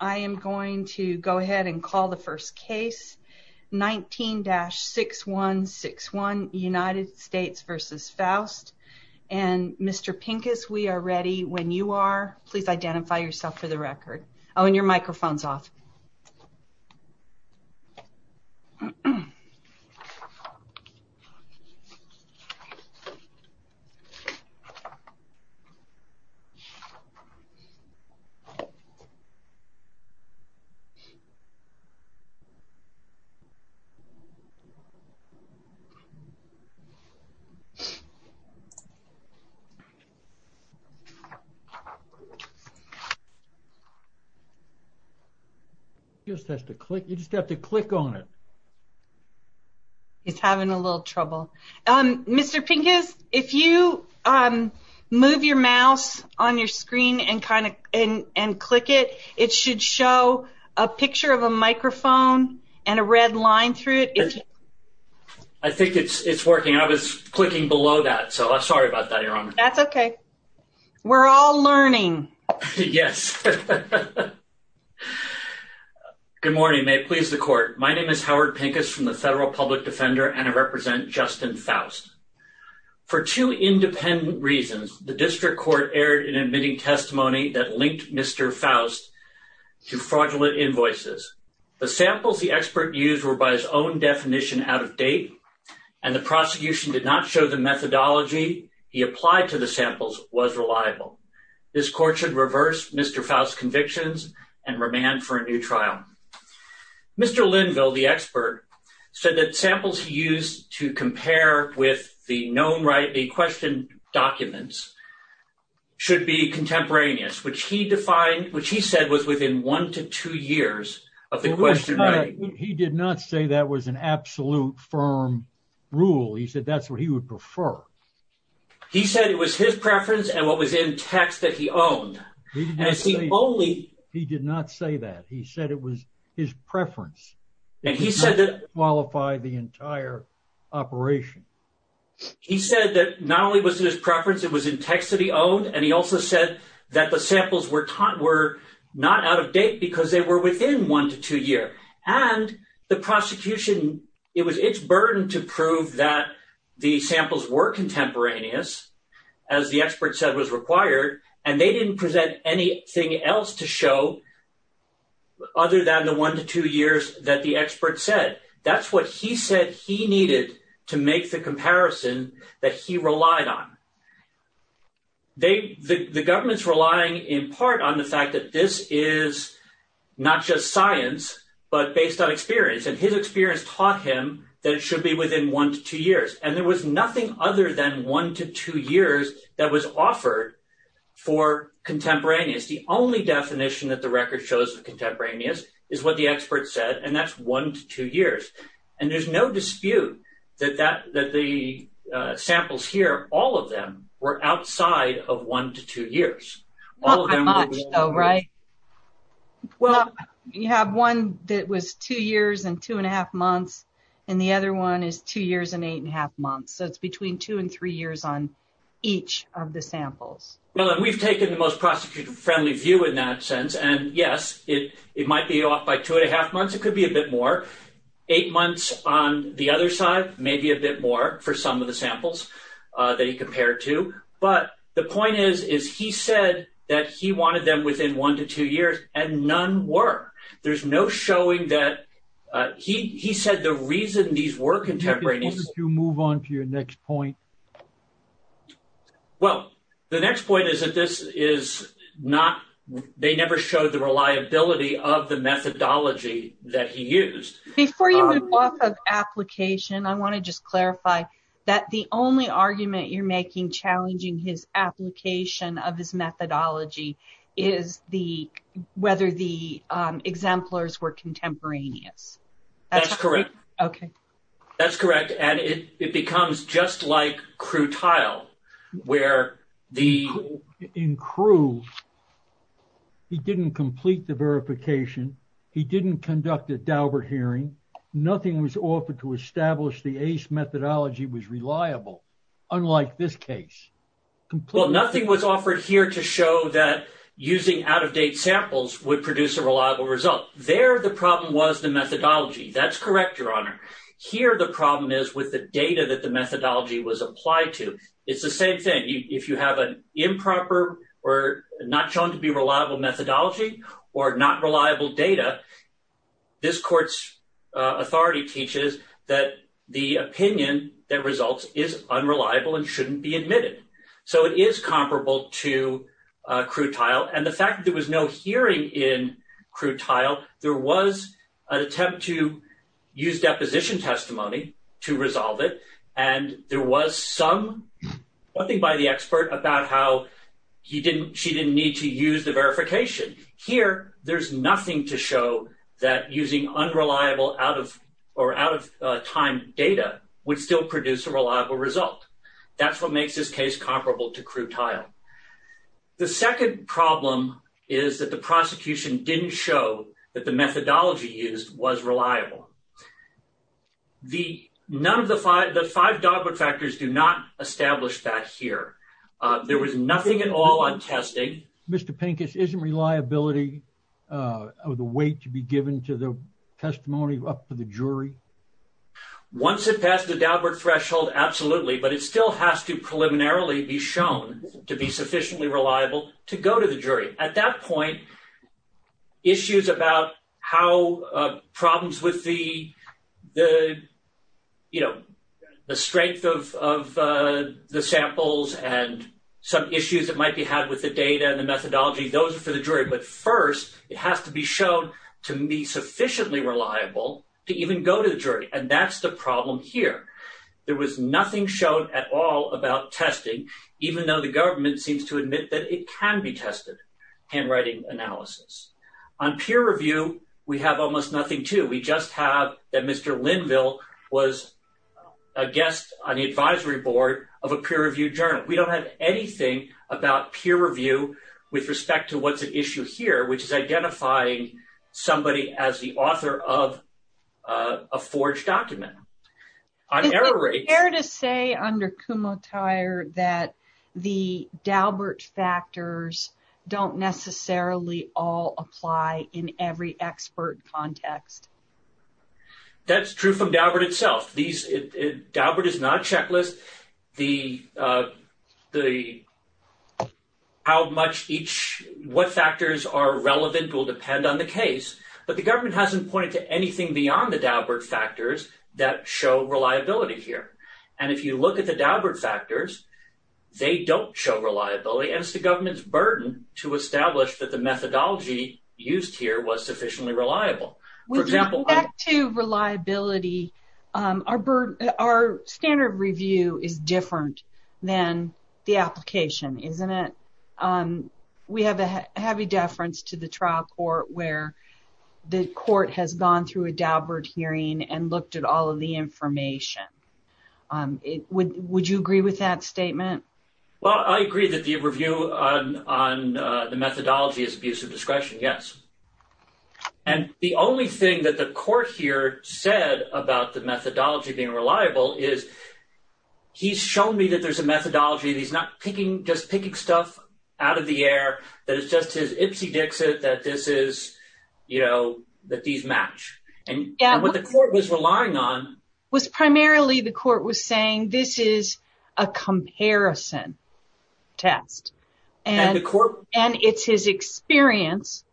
I am going to go ahead and call the first case 19-6161 United States v. Foust and Mr. Pincus we are ready when you are please identify yourself for the record oh and your microphone's off Mr. Pincus if you move your mouse on your screen and click it, it should show a picture of a microphone and a red line through it I think it's working I was clicking below that so I'm sorry about that Your Honor That's okay We're all learning Yes Good morning may it please the court my name is Howard Pincus from the Federal Public Defender and I represent Justin Foust For two independent reasons the district court erred in admitting testimony that linked Mr. Foust to fraudulent invoices The samples the expert used were by his own definition out of date and the prosecution did not show the methodology he applied to the samples was reliable This court should reverse Mr. Foust's convictions and remand for a new trial Mr. Linville the expert said that samples he used to compare with the known right the question documents should be contemporaneous which he defined which he said was within one to two years of the question He did not say that was an absolute firm rule he said that's what he would prefer He said it was his preference and what was in text that he owned He did not say that he said it was his preference And he said that Qualified the entire operation He said that not only was it his preference it was in text that he owned and he also said that the samples were not out of date because they were within one to two year And the prosecution it was its burden to prove that the samples were contemporaneous as the expert said was required and they didn't present anything else to show Other than the one to two years that the expert said that's what he said he needed to make the comparison that he relied on They the government's relying in part on the fact that this is not just science but based on experience and his experience taught him that it should be within one to two years and there was nothing other than one to two years that was offered For contemporaneous the only definition that the record shows of contemporaneous is what the expert said and that's one to two years, and there's no dispute that that that the samples here, all of them were outside of one to two years. Right. Well, you have one that was two years and two and a half months, and the other one is two years and eight and a half months so it's between two and three years on each of the samples. Well, we've taken the most prosecutor friendly view in that sense and yes, it, it might be off by two and a half months, it could be a bit more eight months on the other side, maybe a bit more for some of the samples that he compared to, but the point is, is he said that he wanted them within one to two years, and none were, there's no showing that he said the reason these were contemporaneous You move on to your next point. Well, the next point is that this is not, they never showed the reliability of the methodology that he used Before you move off of application I want to just clarify that the only argument you're making challenging his application of his methodology is the, whether the exemplars were contemporaneous. That's correct. Okay. That's correct. And it becomes just like Crutile, where the... In Crutile, he didn't complete the verification. He didn't conduct a Daubert hearing, nothing was offered to establish the ACE methodology was reliable, unlike this case. Well, nothing was offered here to show that using out of date samples would produce a reliable result. There, the problem was the methodology. That's correct, Your Honor. Here, the problem is with the data that the methodology was applied to. It's the same thing, if you have an improper or not shown to be reliable methodology, or not reliable data. This court's authority teaches that the opinion that results is unreliable and shouldn't be admitted. So it is comparable to Crutile and the fact that there was no hearing in Crutile, there was an attempt to use deposition testimony to resolve it. And there was some, nothing by the expert about how he didn't, she didn't need to use the verification. Here, there's nothing to show that using unreliable out of, or out of time data would still produce a reliable result. That's what makes this case comparable to Crutile. The second problem is that the prosecution didn't show that the methodology used was reliable. The, none of the five, the five Daubert factors do not establish that here. There was nothing at all on testing. Mr. Pincus, isn't reliability of the weight to be given to the testimony up to the jury? Once it passed the Daubert threshold, absolutely, but it still has to preliminarily be shown to be sufficiently reliable to go to the jury. At that point, issues about how problems with the, the, you know, the strength of the samples and some issues that might be had with the data and the methodology, those are for the jury. But first, it has to be shown to me sufficiently reliable to even go to the jury. And that's the problem here. There was nothing shown at all about testing, even though the government seems to admit that it can be tested, handwriting analysis. On peer review, we have almost nothing too. We just have that Mr. Linville was a guest on the advisory board of a peer review journal. We don't have anything about peer review with respect to what's at issue here, which is identifying somebody as the author of a forged document. Is it fair to say under Kumho-Tyre that the Daubert factors don't necessarily all apply in every expert context? That's true from Daubert itself. These, Daubert is not checklist. The, the, how much each, what factors are relevant will depend on the case. But the government hasn't pointed to anything beyond the Daubert factors that show reliability here. And if you look at the Daubert factors, they don't show reliability as the government's burden to establish that the methodology used here was sufficiently reliable. For example, Back to reliability, our standard review is different than the application, isn't it? We have a heavy deference to the trial court where the court has gone through a Daubert hearing and looked at all of the information. Would you agree with that statement? Well, I agree that the review on, on the methodology is abuse of discretion. Yes. And the only thing that the court here said about the methodology being reliable is he's shown me that there's a methodology that he's not picking, just picking stuff out of the air, that it's just his ipsy dixit that this is, you know, that these match. And what the court was relying on. Was primarily the court was saying this is a comparison test and the court and it's his experience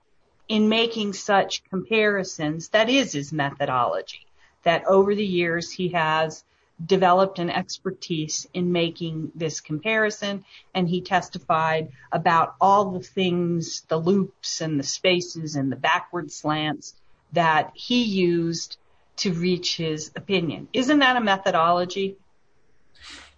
in making such comparisons. That is his methodology that over the years he has developed an expertise in making this comparison. And he testified about all the things, the loops and the spaces and the backwards slants that he used to reach his opinion. Isn't that a methodology?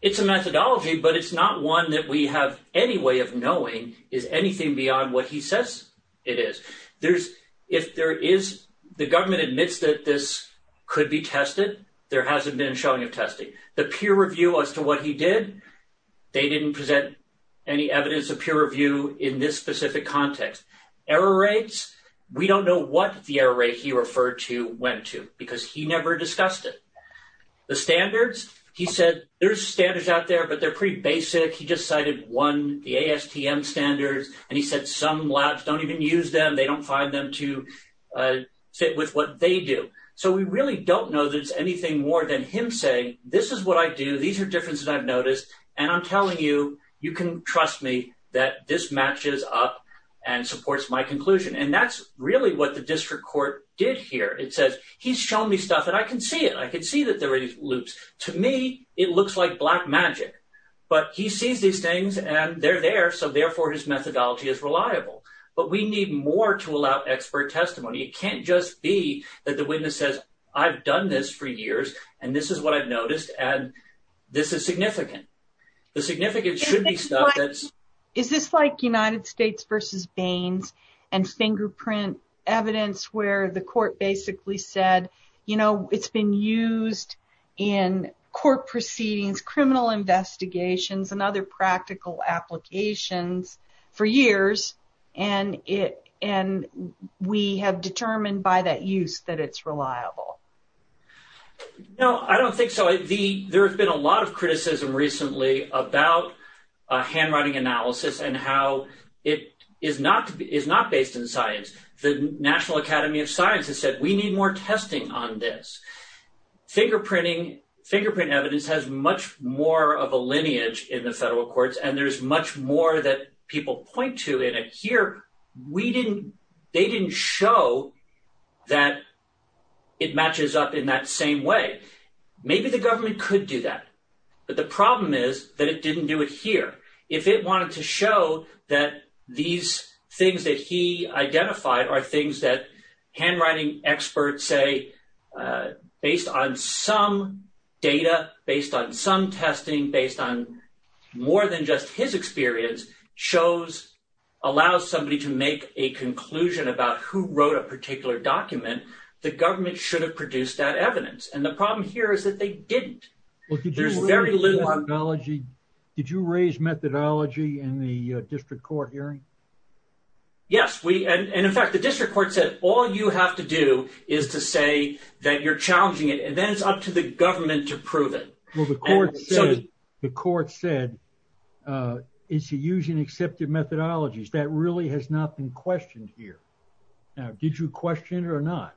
It's a methodology, but it's not one that we have any way of knowing is anything beyond what he says it is. There's if there is the government admits that this could be tested. There hasn't been showing of testing the peer review as to what he did. They didn't present any evidence of peer review in this specific context. Error rates. We don't know what the error rate he referred to went to because he never discussed it. The standards, he said, there's standards out there, but they're pretty basic. He just cited one, the ASTM standards, and he said some labs don't even use them. They don't find them to fit with what they do. So we really don't know that it's anything more than him saying this is what I do. These are differences I've noticed. And I'm telling you, you can trust me that this matches up and supports my conclusion. And that's really what the district court did here. It says he's shown me stuff and I can see it. I can see that there are these loops. To me, it looks like black magic, but he sees these things and they're there. So therefore, his methodology is reliable. But we need more to allow expert testimony. It can't just be that the witness says, I've done this for years and this is what I've noticed. And this is significant. The significance should be stuff. Is this like United States v. Baines and fingerprint evidence where the court basically said, you know, it's been used in court proceedings, criminal investigations, and other practical applications for years and we have determined by that use that it's reliable? No, I don't think so. There's been a lot of criticism recently about handwriting analysis and how it is not based in science. The National Academy of Science has said we need more testing on this. Fingerprint evidence has much more of a lineage in the federal courts and there's much more that people point to in it. However, they didn't show that it matches up in that same way. Maybe the government could do that. But the problem is that it didn't do it here. If it wanted to show that these things that he identified are things that handwriting experts say, based on some data, based on some testing, based on more than just his experience, allows somebody to make a conclusion about who wrote a particular document, the government should have produced that evidence. And the problem here is that they didn't. There's very little... Did you raise methodology in the district court hearing? Yes. And in fact, the district court said all you have to do is to say that you're challenging it and then it's up to the government to prove it. Well, the court said it's using accepted methodologies. That really has not been questioned here. Now, did you question it or not?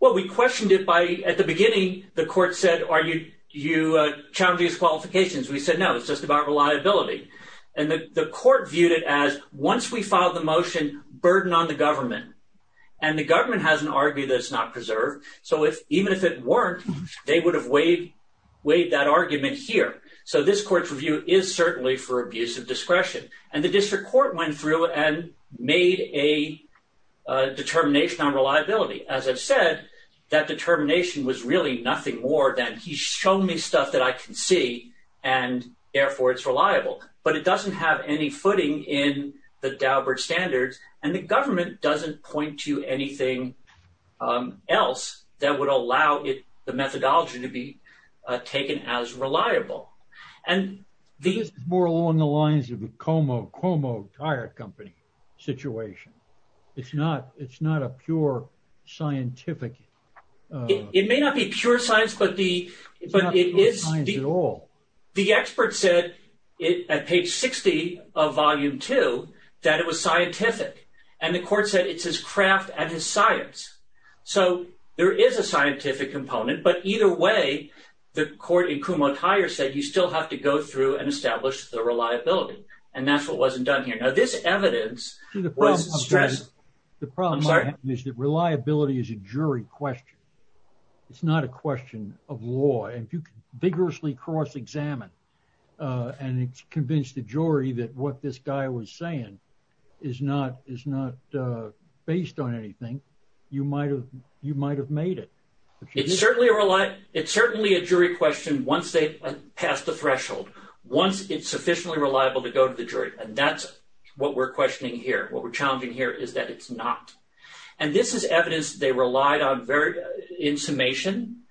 Well, we questioned it by... At the beginning, the court said, are you challenging its qualifications? We said, no, it's just about reliability. And the court viewed it as, once we filed the motion, burden on the government. And the government has an argument that it's not preserved. So even if it weren't, they would have weighed that argument here. So this court's review is certainly for abuse of discretion. And the district court went through and made a determination on reliability. As I've said, that determination was really nothing more than he's shown me stuff that I can see, and therefore it's reliable. But it doesn't have any footing in the Daubert standards. And the government doesn't point to anything else that would allow the methodology to be taken as reliable. This is more along the lines of the Cuomo Tire Company situation. It's not a pure scientific... It may not be pure science, but it is... It's not pure science at all. The expert said, at page 60 of volume two, that it was scientific. And the court said it's his craft and his science. So there is a scientific component, but either way, the court in Cuomo Tire said you still have to go through and establish the reliability. And that's what wasn't done here. Now, this evidence was stressful. The problem is that reliability is a jury question. It's not a question of law. And if you could vigorously cross-examine and convince the jury that what this guy was saying is not based on anything, you might have made it. It's certainly a jury question once they pass the threshold, once it's sufficiently reliable to go to the jury. And that's what we're questioning here. What we're challenging here is that it's not. And this is evidence they relied on in summation.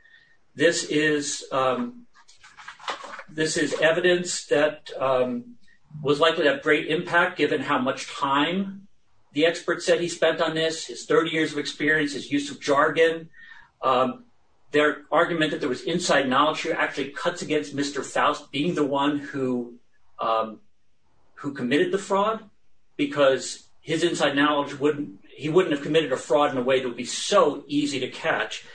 This is evidence that was likely to have great impact given how much time the expert said he spent on this, his 30 years of experience, his use of jargon. Their argument that there was inside knowledge here actually cuts against Mr. Faust being the one who committed the fraud, because his inside knowledge, he wouldn't have committed a fraud in a way that would be so easy to catch.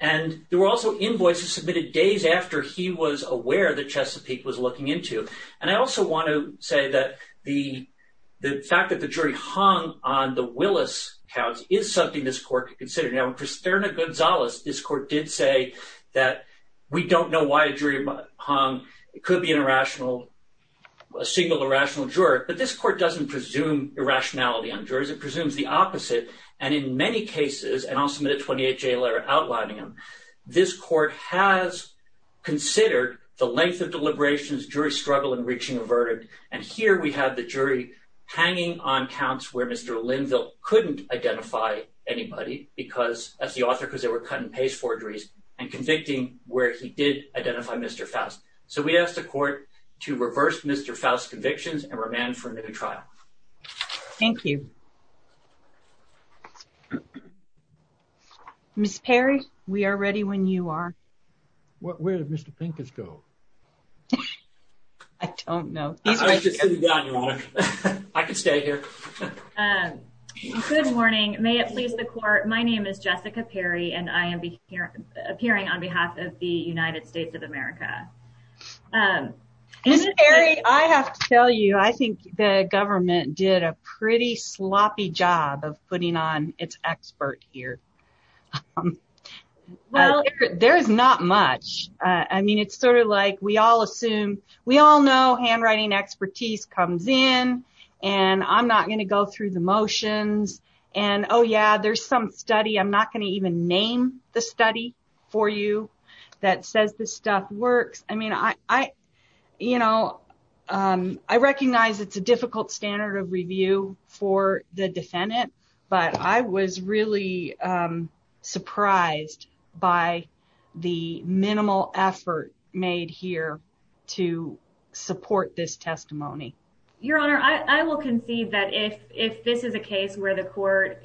And there were also invoices submitted days after he was aware that Chesapeake was looking into. And I also want to say that the fact that the jury hung on the Willis accounts is something this court could consider. Now, Kristerna Gonzalez, this court did say that we don't know why a jury hung. It could be an irrational, a single irrational juror. But this court doesn't presume irrationality on jurors. It presumes the opposite. And in many cases, and I'll submit a 28-J letter outlining them, this court has considered the length of deliberations, jury struggle, and reaching a verdict. And here we have the jury hanging on counts where Mr. Linville couldn't identify anybody because, as the author, because they were cut and paste forgeries, and convicting where he did identify Mr. Faust. So we asked the court to reverse Mr. Faust's convictions and remand for a new trial. Thank you. Ms. Perry, we are ready when you are. Where did Mr. Pincus go? I don't know. I can stay here. Good morning. May it please the court. My name is Jessica Perry, and I am appearing on behalf of the United States of America. Ms. Perry, I have to tell you, I think the government did a pretty sloppy job of putting on its expert here. Well, there's not much. I mean, it's sort of like we all assume we all know handwriting expertise comes in and I'm not going to go through the motions. And oh, yeah, there's some study. I'm not going to even name the study for you that says this stuff works. I mean, I, you know, I recognize it's a difficult standard of review for the defendant. But I was really surprised by the minimal effort made here to support this testimony. Your Honor, I will concede that if if this is a case where the court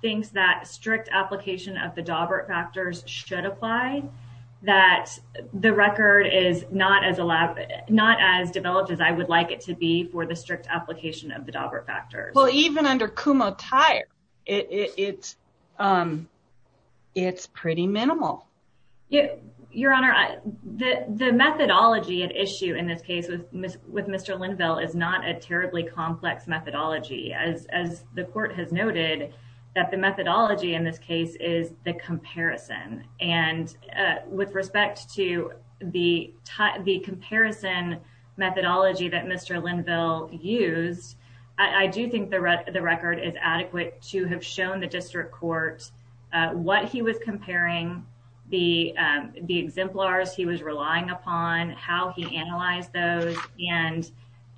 thinks that strict application of the Dobbert factors should apply, that the record is not as elaborate, not as developed as I would like it to be for the strict application of the Dobbert factors. Well, even under Kumo Tire, it's it's pretty minimal. Your Honor, the methodology at issue in this case with Mr. Linville is not a terribly complex methodology, as the court has noted that the methodology in this case is the comparison. And with respect to the the comparison methodology that Mr. Linville used, I do think the record is adequate to have shown the district court what he was comparing the the exemplars he was relying upon, how he analyzed those and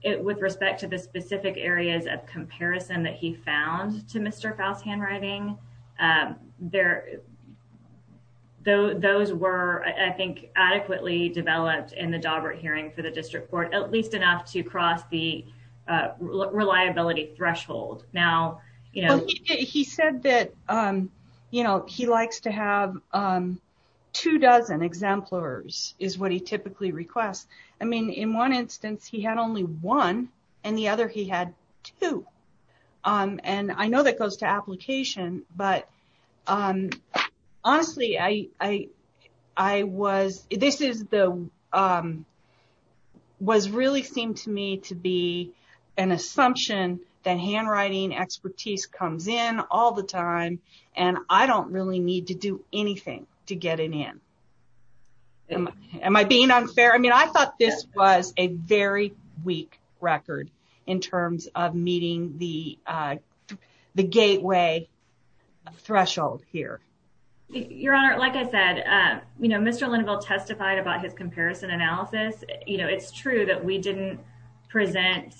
it with respect to the specific areas of comparison that he found to Mr. Faust handwriting there. Those were, I think, adequately developed in the Dobbert hearing for the district court, at least enough to cross the reliability threshold. Now, you know, he said that, you know, he likes to have two dozen exemplars is what he typically requests. I mean, in one instance, he had only one and the other he had two. And I know that goes to application, but honestly, I was this is the was really seemed to me to be an assumption that handwriting expertise comes in all the time and I don't really need to do anything to get it in. Am I being unfair? I mean, I thought this was a very weak record in terms of meeting the the gateway threshold here. Your Honor, like I said, you know, Mr. Linville testified about his comparison analysis. You know, it's true that we didn't present,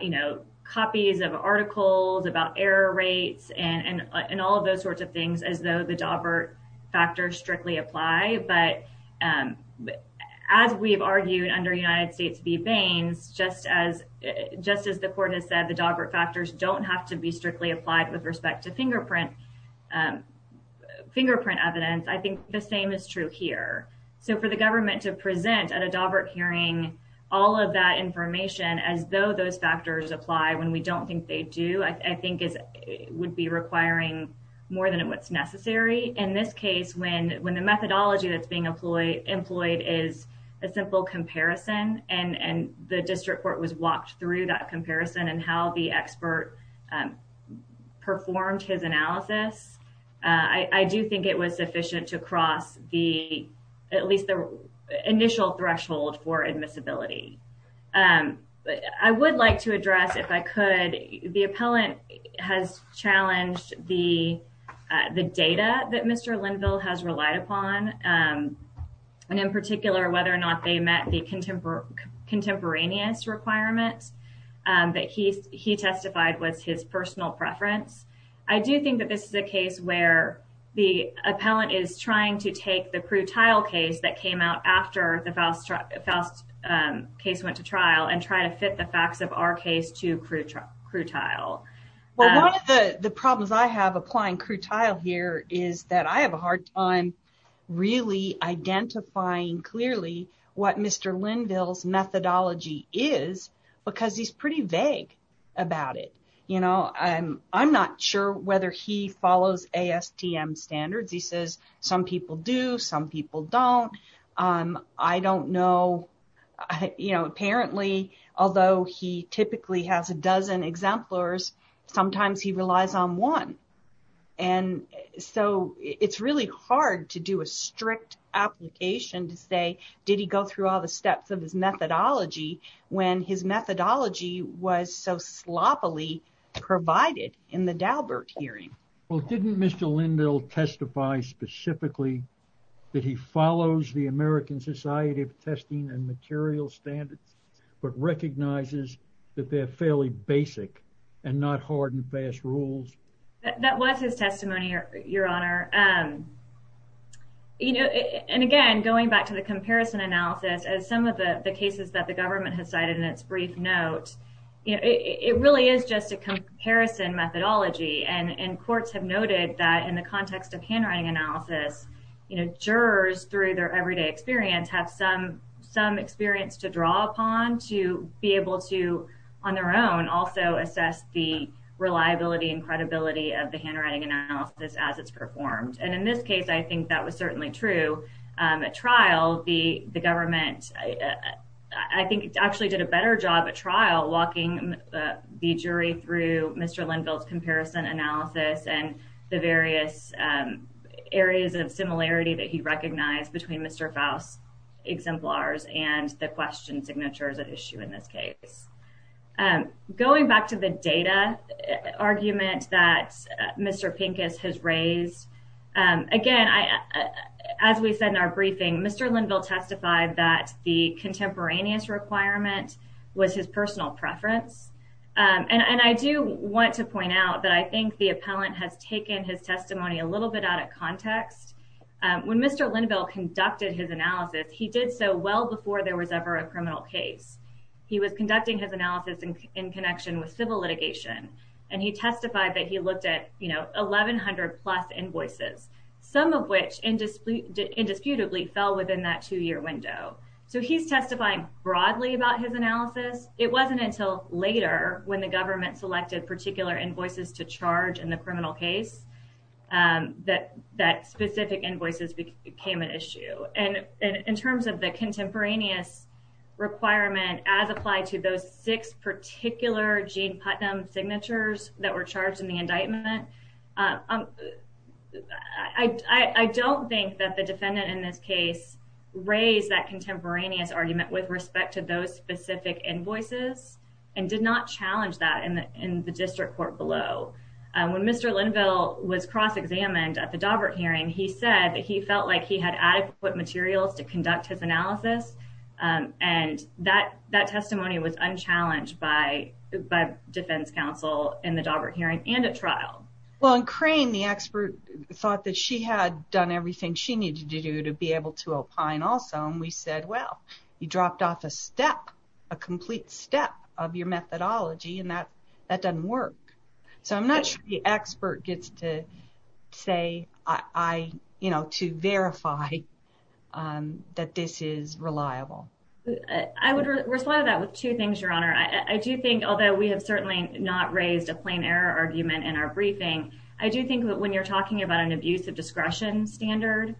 you know, copies of articles about error rates and and all of those sorts of things as though the Dobbert factors strictly apply. But as we've argued under United States v. Baines, just as just as the court has said, the Dobbert factors don't have to be strictly applied with respect to fingerprint fingerprint evidence. I think the same is true here. So for the government to present at a Dobbert hearing, all of that information, as though those factors apply when we don't think they do. I think is would be requiring more than what's necessary in this case when when the methodology that's being employed, employed is a simple comparison. And the district court was walked through that comparison and how the expert performed his analysis. I do think it was sufficient to cross the at least the initial threshold for admissibility. I would like to address if I could. The appellant has challenged the the data that Mr. Linville has relied upon. And in particular, whether or not they met the contemporary contemporaneous requirements that he he testified was his personal preference. I do think that this is a case where the appellant is trying to take the crude tile case that came out after the Foust case went to trial and try to fit the facts of our case to crude, crude tile. Well, one of the problems I have applying crude tile here is that I have a hard time really identifying clearly what Mr. about it. You know, I'm I'm not sure whether he follows ASTM standards. He says some people do. Some people don't. I don't know. You know, apparently, although he typically has a dozen exemplars, sometimes he relies on one. And so it's really hard to do a strict application to say, did he go through all the steps of his methodology when his methodology was so sloppily provided in the Daubert hearing. Well, didn't Mr. Linville testify specifically that he follows the American Society of Testing and Materials Standards, but recognizes that they're fairly basic and not hard and fast rules. That was his testimony, Your Honor. You know, and again, going back to the comparison analysis, as some of the cases that the government has cited in its brief note, it really is just a comparison methodology. And courts have noted that in the context of handwriting analysis, jurors, through their everyday experience, have some experience to draw upon to be able to, on their own, also assess the reliability and credibility of the handwriting analysis as it's performed. And in this case, I think that was certainly true. At trial, the government, I think, actually did a better job at trial walking the jury through Mr. Linville's comparison analysis and the various areas of similarity that he recognized between Mr. Faust's exemplars and the question signatures at issue in this case. Going back to the data argument that Mr. Pincus has raised, again, as we said in our briefing, Mr. Linville testified that the contemporaneous requirement was his personal preference. And I do want to point out that I think the appellant has taken his testimony a little bit out of context. When Mr. Linville conducted his analysis, he did so well before there was ever a criminal case. He was conducting his analysis in connection with civil litigation, and he testified that he looked at, you know, 1,100-plus invoices, some of which indisputably fell within that two-year window. So he's testifying broadly about his analysis. It wasn't until later when the government selected particular invoices to charge in the criminal case that specific invoices became an issue. And in terms of the contemporaneous requirement as applied to those six particular Gene Putnam signatures that were charged in the indictment, I don't think that the defendant in this case raised that contemporaneous argument with respect to those specific invoices and did not challenge that in the district court below. When Mr. Linville was cross-examined at the Daubert hearing, he said that he felt like he had adequate materials to conduct his analysis, and that testimony was unchallenged by defense counsel in the Daubert hearing and at trial. Well, and Crane, the expert, thought that she had done everything she needed to do to be able to opine also, and we said, well, you dropped off a step, a complete step of your methodology, and that doesn't work. So I'm not sure the expert gets to say, you know, to verify that this is reliable. I would respond to that with two things, Your Honor. I do think, although we have certainly not raised a plain error argument in our briefing, I do think that when you're talking about an abuse of discretion standard,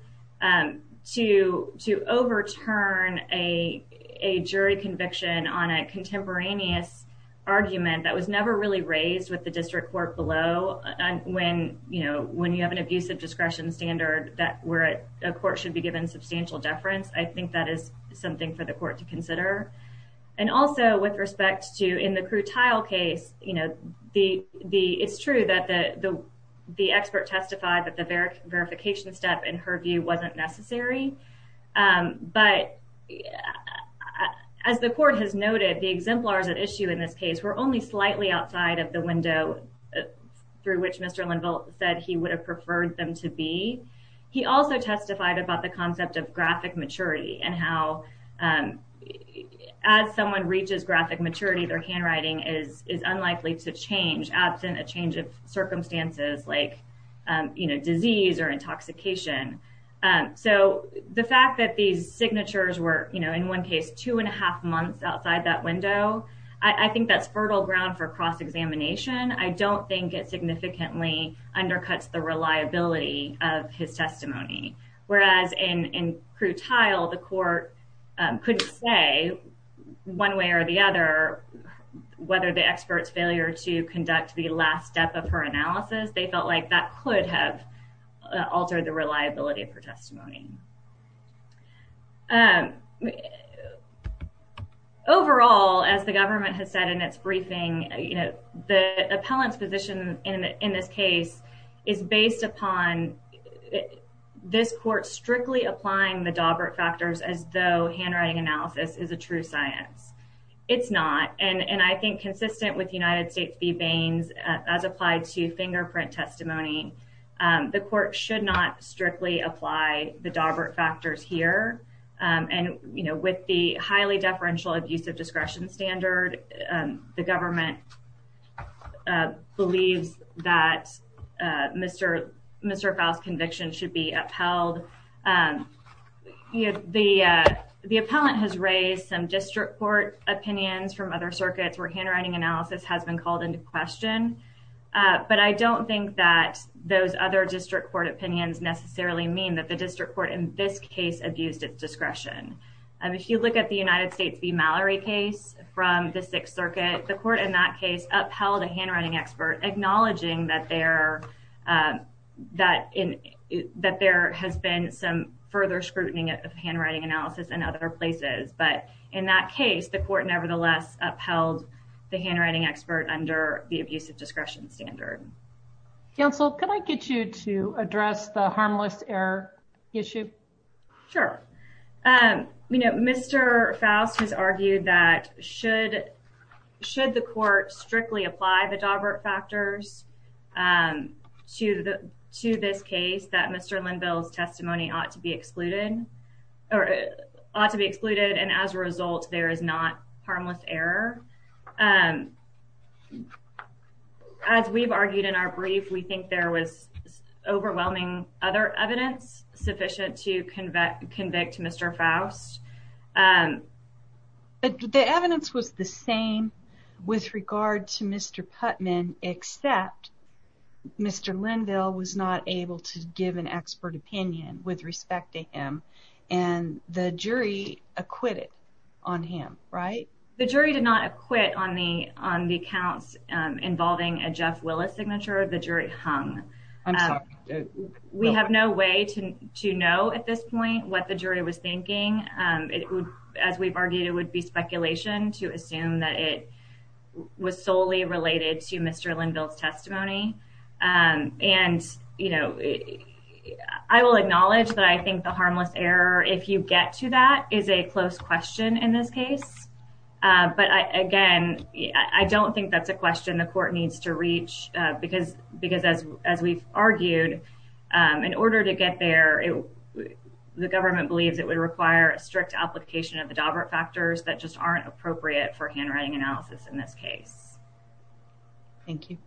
to overturn a jury conviction on a contemporaneous argument that was never really raised with the district court below when, you know, when you have an abuse of discretion standard that where a court should be given substantial deference, I think that is something for the court to consider. And also, with respect to in the Crutile case, you know, it's true that the expert testified that the verification step, in her view, wasn't necessary, but as the court has noted, the exemplars at issue in this case were only slightly outside of the window through which Mr. Linville said he would have preferred them to be. He also testified about the concept of graphic maturity and how as someone reaches graphic maturity, their handwriting is unlikely to change absent a change of circumstances like, you know, disease or intoxication. So the fact that these signatures were, you know, in one case, two and a half months outside that window, I think that's fertile ground for cross-examination. I don't think it significantly undercuts the reliability of his testimony. Whereas in Crutile, the court could say one way or the other, whether the expert's failure to conduct the last step of her analysis, they felt like that could have altered the reliability of her testimony. Overall, as the government has said in its briefing, you know, the appellant's position in this case is based upon this court strictly applying the Dawbert factors as though handwriting analysis is a true science. It's not. And I think consistent with United States v. Baines as applied to fingerprint testimony, the court should not strictly apply the Dawbert factors here. And, you know, with the highly deferential abuse of discretion standard, the government believes that Mr. Faust's conviction should be upheld. The appellant has raised some district court opinions from other circuits where handwriting analysis has been called into question. But I don't think that those other district court opinions necessarily mean that the district court in this case abused its discretion. If you look at the United States v. Mallory case from the Sixth Circuit, the court in that case upheld a handwriting expert, acknowledging that there has been some further scrutiny of handwriting analysis in other places. But in that case, the court nevertheless upheld the handwriting expert under the abuse of discretion standard. Counsel, can I get you to address the harmless error issue? Sure. Mr. Faust has argued that should the court strictly apply the Dawbert factors to this case, that Mr. Linville's testimony ought to be excluded. And as a result, there is not harmless error. As we've argued in our brief, we think there was overwhelming other evidence sufficient to convict Mr. Faust. But the evidence was the same with regard to Mr. Putman, except Mr. Linville was not able to give an expert opinion with respect to him, and the jury acquitted on him, right? The jury did not acquit on the counts involving a Jeff Willis signature. The jury hung. We have no way to know at this point what the jury was thinking. As we've argued, it would be speculation to assume that it was solely related to Mr. Linville's testimony. I will acknowledge that I think the harmless error, if you get to that, is a close question in this case. But again, I don't think that's a question the court needs to reach because as we've argued, in order to get there, the government believes it would require a strict application of the Dawbert factors that just aren't appropriate for handwriting analysis in this case. Thank you.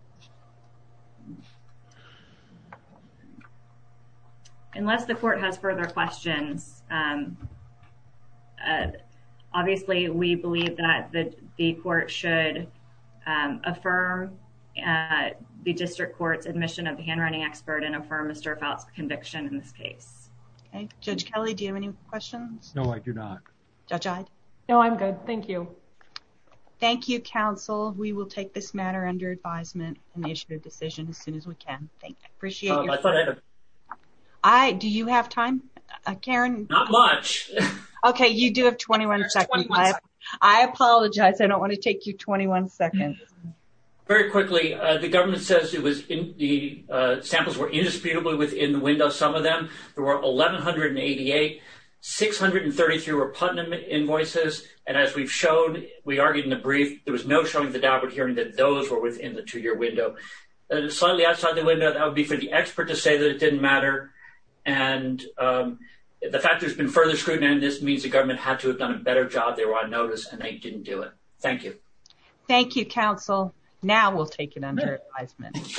Unless the court has further questions, obviously, we believe that the court should affirm the district court's admission of the handwriting expert and affirm Mr. Faust's conviction in this case. Judge Kelly, do you have any questions? No, I do not. No, I'm good. Thank you. Thank you, counsel. We will take this matter under advisement and issue a decision as soon as we can. Thank you. I thought I had a question. Do you have time, Karen? Not much. Okay, you do have 21 seconds. I apologize. I don't want to take you 21 seconds. Very quickly, the government says the samples were indisputably within the window, some of them. There were 1,188. 633 were Putnam invoices. And as we've shown, we argued in the brief, there was no showing the Dawbert hearing that those were within the two-year window. Slightly outside the window, that would be for the expert to say that it didn't matter. And the fact there's been further scrutiny on this means the government had to have done a better job. They were on notice and they didn't do it. Thank you. Thank you, counsel. Now we'll take it under advisement.